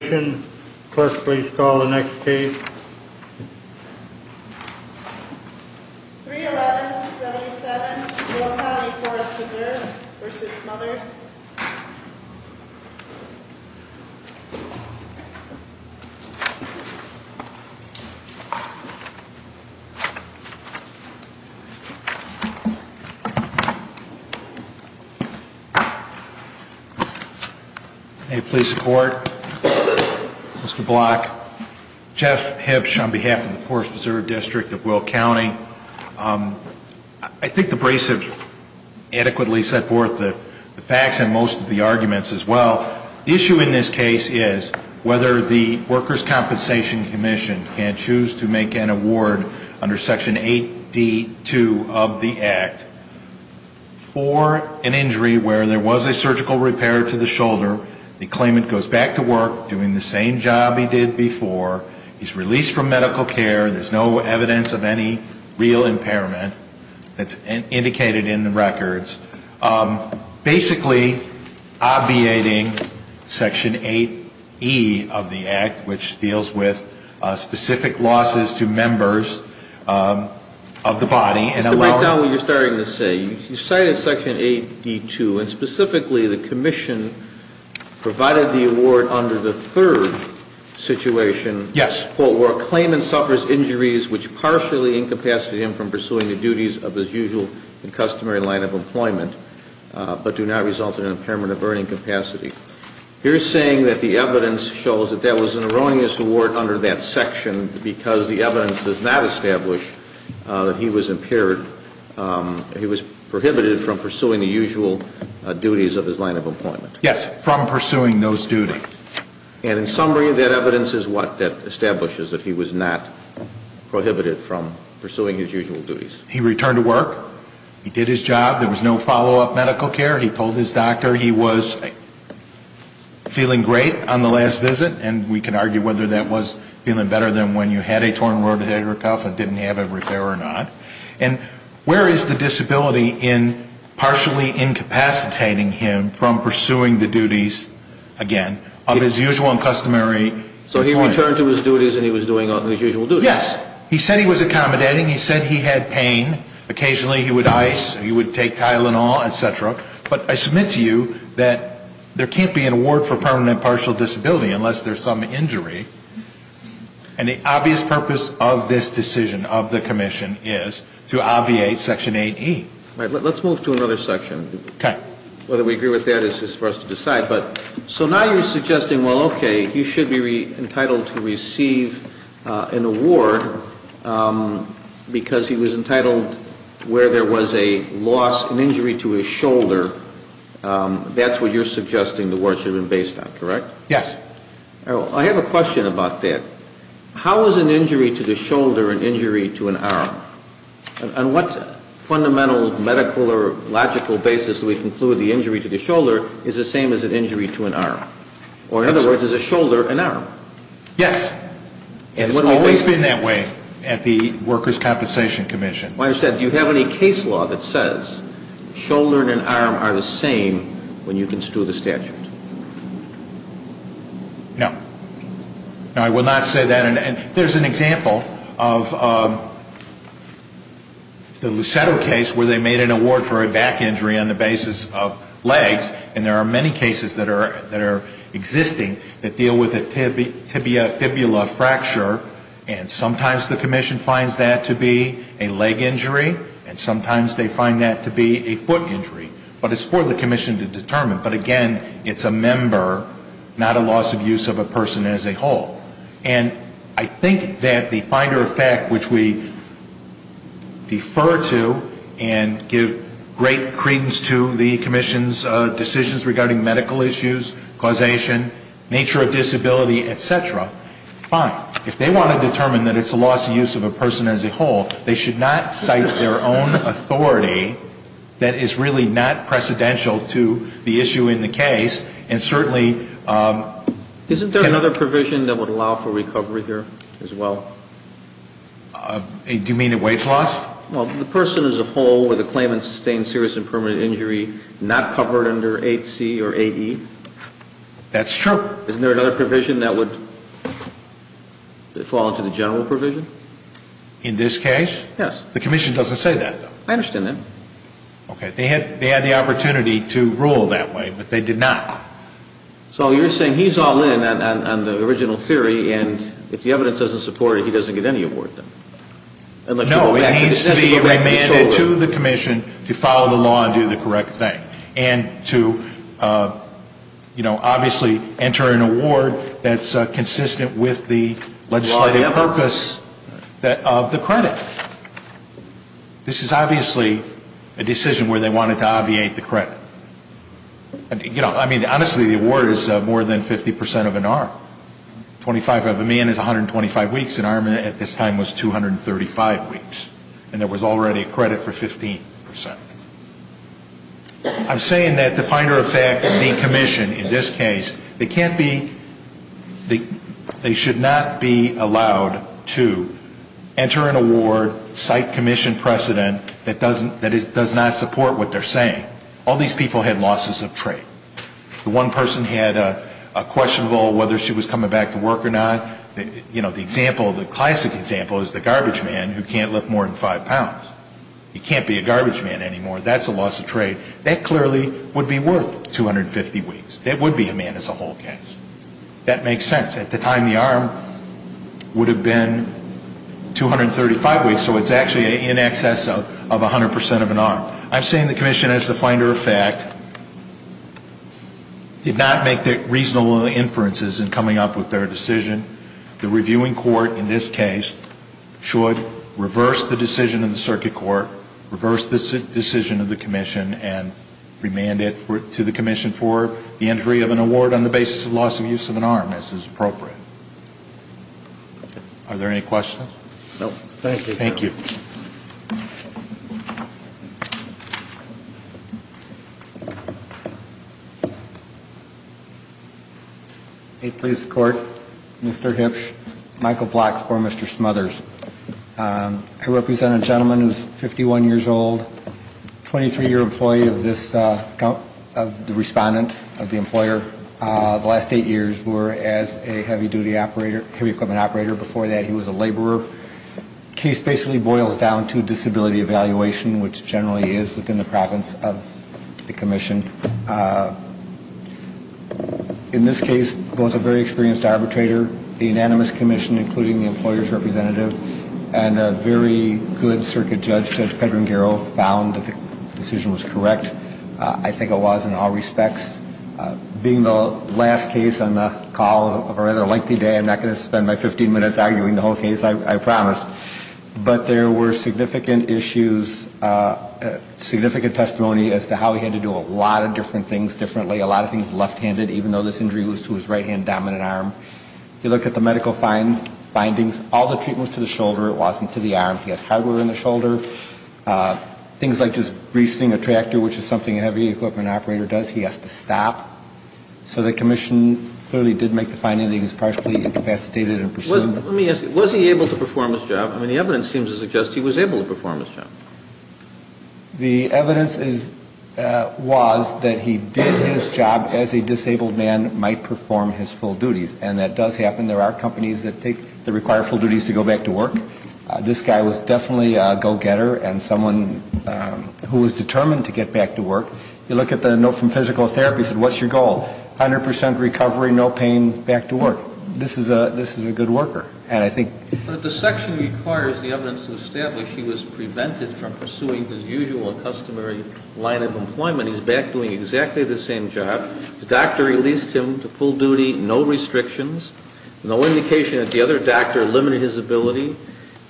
31177 Will County Forest Preserve v. Smothers Mr. Block, Jeff Hipsch on behalf of the Forest Preserve District of Will County. I think the brace have adequately set forth the facts and most of the arguments as well. The issue in this case is whether the Workers' Compensation Commission can choose to make an award under Section 8D.2 of the Act for an injury where there was a surgical repair to the shoulder, the claimant goes back to work doing the same job he did before, he's released from medical care, there's no evidence of any real impairment that's indicated in the records. Basically obviating Section 8E of the Act which deals with specific losses to members of the body and allowing- Provided the award under the third situation, quote, where a claimant suffers injuries which partially incapacitate him from pursuing the duties of his usual and customary line of employment, but do not result in an impairment of burning capacity. You're saying that the evidence shows that that was an erroneous award under that section because the evidence does not establish that he was impaired, he was prohibited from pursuing the usual duties of his line of employment. Yes, from pursuing those duties. And in summary, that evidence is what? That establishes that he was not prohibited from pursuing his usual duties. He returned to work, he did his job, there was no follow-up medical care, he told his doctor he was feeling great on the last visit, and we can argue whether that was feeling better than when you had a torn rotator cuff and didn't have a repair or not. And where is the disability in partially incapacitating him from pursuing the duties, again, of his usual and customary employment? So he returned to his duties and he was doing his usual duties. Yes. He said he was accommodating, he said he had pain, occasionally he would ice, he would take Tylenol, et cetera. But I submit to you that there can't be an award for permanent partial disability unless there's some injury. And the obvious purpose of this decision of the Commission is to obviate Section 8E. All right. Let's move to another section. Okay. Whether we agree with that is for us to decide. So now you're suggesting, well, okay, he should be entitled to receive an award because he was entitled where there was a loss, an injury to his shoulder, that's what you're suggesting the award should have been based on, correct? Yes. I have a question about that. How is an injury to the shoulder an injury to an arm? On what fundamental medical or logical basis do we conclude the injury to the shoulder is the same as an injury to an arm? Or in other words, is a shoulder an arm? Yes. It's always been that way at the Workers' Compensation Commission. I understand. Do you have any case law that says shoulder and an arm are the same when you construe the statute? No. No, I will not say that. And there's an example of the Lucetto case where they made an award for a back injury on the basis of legs. And there are many cases that are existing that deal with a tibia fibula fracture. And sometimes the Commission finds that to be a leg injury, and sometimes they find that to be a foot injury. But it's for the Commission to determine. But again, it's a member, not a loss of use of a person as a whole. And I think that the Finder of Fact, which we defer to and give great credence to the Commission's decisions regarding medical issues, causation, nature of disability, et cetera, fine. If they want to determine that it's a loss of use of a person as a whole, they need to be able to make a decision. I'm just curious, is there another provision that would allow for recovery here as well? Do you mean at wage loss? Well, the person as a whole with a claimant sustained serious and permanent injury not covered under 8C or 8E? That's true. Isn't there another provision that would fall under the general provision? In this case? Yes. The Commission doesn't say that, though. I understand that. Okay. Thank you. They had the opportunity to rule that way, but they did not. So you're saying he's all in on the original theory, and if the evidence doesn't support it, he doesn't get any award then? No, it needs to be remanded to the Commission to follow the law and do the correct thing. And to, you know, obviously enter an award that's consistent with the legislative purpose of the credit. This is obviously a decision where they wanted to obviate the credit. You know, I mean, honestly, the award is more than 50 percent of an arm. Twenty-five of a man is 125 weeks. An arm at this time was 235 weeks. And there was already a credit for 15 percent. I'm saying that the finer effect of the Commission in this case, they can't be They should not be allowed to enter an award, cite Commission precedent that does not support what they're saying. All these people had losses of trade. One person had a questionable whether she was coming back to work or not. You know, the example, the classic example is the garbage man who can't lift more than five pounds. He can't be a garbage man anymore. That's a loss of trade. That clearly would be worth 250 weeks. That would be a man as a whole case. That makes sense. At the time, the arm would have been 235 weeks, so it's actually in excess of 100 percent of an arm. I'm saying the Commission, as the finer effect, did not make reasonable inferences in coming up with their decision. The reviewing court in this case should reverse the decision of the circuit court, decision of the Commission, and remand it to the Commission for the entry of an award on the basis of loss of use of an arm, as is appropriate. Are there any questions? No. Thank you. Thank you. Thank you. Hey, please, the Court. Mr. Hipsch, Michael Block, for Mr. Smothers. I represent a gentleman who is 51 years old, 23-year employee of this account, of the respondent, of the employer. The last eight years were as a heavy duty operator, heavy equipment operator. Before that, he was a laborer. The case basically boils down to disability evaluation, which generally is within the province of the Commission. In this case, both a very experienced arbitrator, the unanimous Commission, including the employer's representative, and a very good circuit judge, Judge Pedro Nguero, found the decision was correct. I think it was in all respects. Being the last case on the call of a rather lengthy day, I'm not going to spend my 15 minutes arguing the whole case, I promise. But there were significant issues, significant testimony as to how he had to do a lot of different things differently, a lot of things left-handed, even though this injury was to his right-hand dominant arm. You look at the medical findings, all the treatment was to the shoulder. It wasn't to the arm. He has hardware in the shoulder. Things like just greasing a tractor, which is something a heavy equipment operator does, he has to stop. So the Commission clearly did make the finding that he was partially incapacitated in pursuit. Let me ask you, was he able to perform his job? I mean, the evidence seems to suggest he was able to perform his job. The evidence was that he did his job as a disabled man might perform his full duties. And that does happen. There are companies that take, that require full duties to go back to work. This guy was definitely a go-getter and someone who was determined to get back to work. You look at the note from physical therapy, it said, what's your goal? 100% recovery, no pain, back to work. This is a good worker. But the section requires the evidence to establish he was prevented from pursuing his usual customary line of employment. He's back doing exactly the same job. The doctor released him to full duty, no restrictions, no indication that the other doctor limited his ability.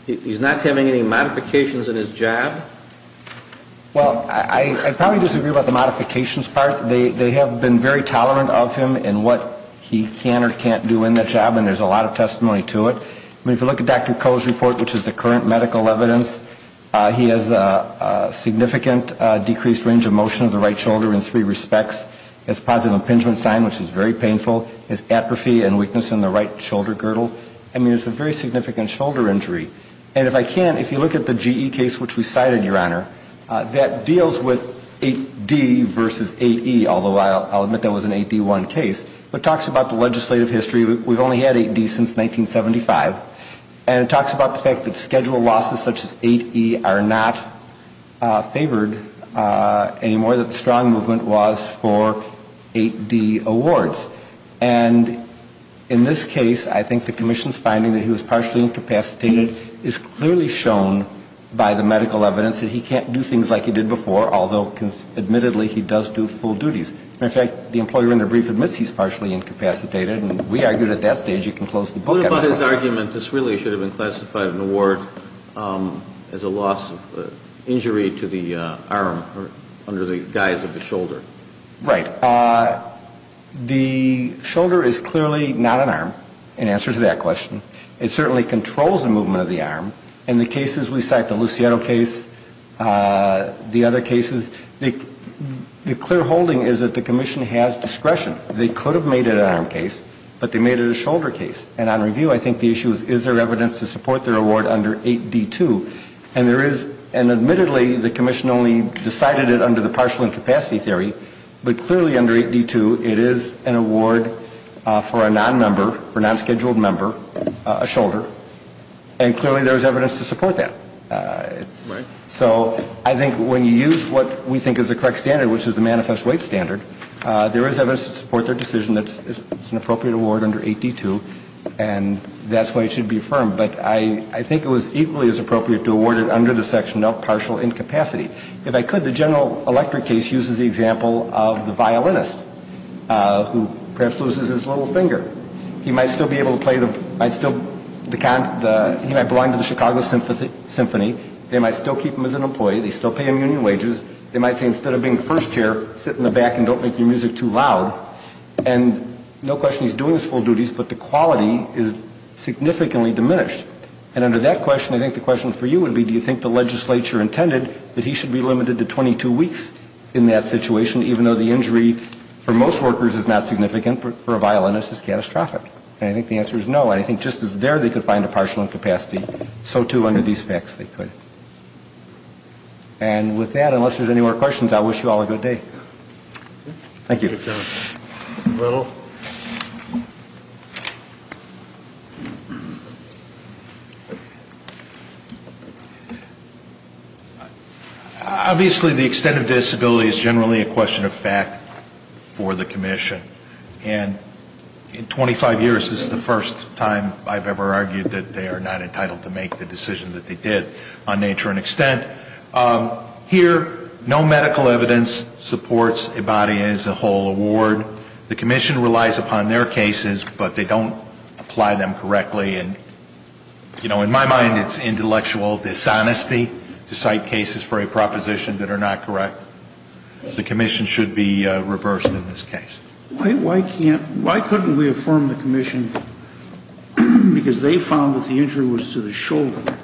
He's not having any modifications in his job. Well, I probably disagree about the modifications part. They have been very tolerant of him in what he can or can't do in that job, and there's a lot of testimony to it. I mean, if you look at Dr. Koh's report, which is the current medical evidence, he has a significant decreased range of motion of the right shoulder in three respects. He has a positive impingement sign, which is very painful. He has atrophy and weakness in the right shoulder girdle. I mean, it's a very significant shoulder injury. And if I can, if you look at the GE case, which we cited, Your Honor, that deals with 8D versus 8E, although I'll admit that was an 8D1 case, but talks about the legislative history. We've only had 8D since 1975. And it talks about the fact that schedule losses such as 8E are not favored anymore, was for 8D awards. And in this case, I think the commission's finding that he was partially incapacitated is clearly shown by the medical evidence that he can't do things like he did before, although admittedly he does do full duties. In fact, the employer in the brief admits he's partially incapacitated, and we argued at that stage he can close the book. But what about his argument this really should have been classified an award as a loss of injury to the arm under the guise of a shoulder? Right. The shoulder is clearly not an arm in answer to that question. It certainly controls the movement of the arm. In the cases we cite, the Luciano case, the other cases, the clear holding is that the commission has discretion. They could have made it an arm case, but they made it a shoulder case. And on review, I think the issue is, is there evidence to support their award under 8D2? And there is, and admittedly the commission only decided it under the partial incapacity theory, but clearly under 8D2 it is an award for a nonmember, for a nonscheduled member, a shoulder. And clearly there is evidence to support that. So I think when you use what we think is the correct standard, which is the manifest weight standard, there is evidence to support their decision that it's an appropriate award under 8D2, and that's why it should be affirmed. But I think it was equally as appropriate to award it under the section of partial incapacity. If I could, the general electric case uses the example of the violinist who perhaps loses his little finger. He might still be able to play the, he might belong to the Chicago Symphony. They might still keep him as an employee. They still pay him union wages. They might say instead of being the first chair, sit in the back and don't make your music too loud. And no question he's doing his full duties, but the quality is significantly diminished. And under that question, I think the question for you would be, do you think the legislature intended that he should be limited to 22 weeks in that situation, even though the injury for most workers is not significant, but for a violinist it's catastrophic? And I think the answer is no, and I think just as there they could find a partial incapacity, so too under these facts they could. And with that, unless there's any more questions, I wish you all a good day. Thank you. Obviously the extent of disability is generally a question of fact for the commission, and in 25 years this is the first time I've ever argued that they are not entitled to make the decision that they did. And I think it's a question of fact for the commission. It's a question of fact on nature and extent. Here, no medical evidence supports a body as a whole award. The commission relies upon their cases, but they don't apply them correctly. And in my mind it's intellectual dishonesty to cite cases for a proposition that are not correct. The commission should be reversed in this case. Why couldn't we affirm the commission, because they found that the injury was to the shoulder,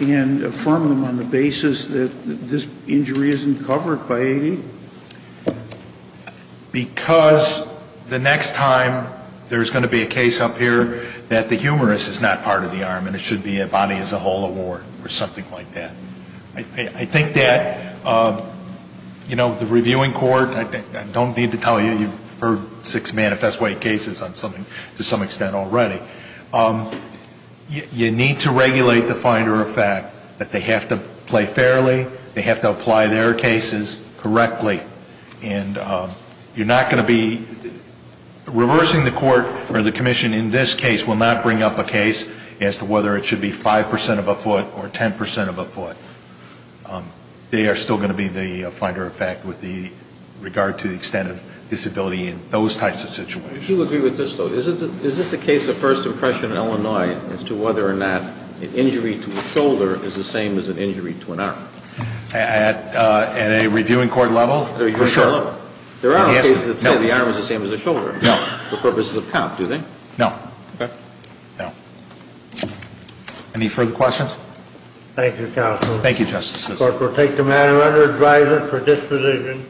and affirm them on the basis that this injury isn't covered by 80? Because the next time there's going to be a case up here that the humerus is not part of the arm and it should be a body as a whole award or something like that. I think that, you know, the reviewing court, I don't need to tell you, you've heard six manifesto-weight cases to some extent already. You need to regulate the finder of fact, that they have to play fairly, they have to apply their cases correctly, and you're not going to be, reversing the court or the commission in this case will not bring up a case as to whether it should be 5% of a foot or 10% of a foot. They are still going to be the finder of fact with regard to the extent of disability in those types of situations. Would you agree with this, though? Is this the case of first impression in Illinois as to whether or not an injury to a shoulder is the same as an injury to an arm? At a reviewing court level, for sure. There are cases that say the arm is the same as the shoulder. No. For purposes of count, do they? No. Okay. No. Any further questions? Thank you, counsel. Thank you, Justice Ginsburg. The court will take the matter under advisement for disposition.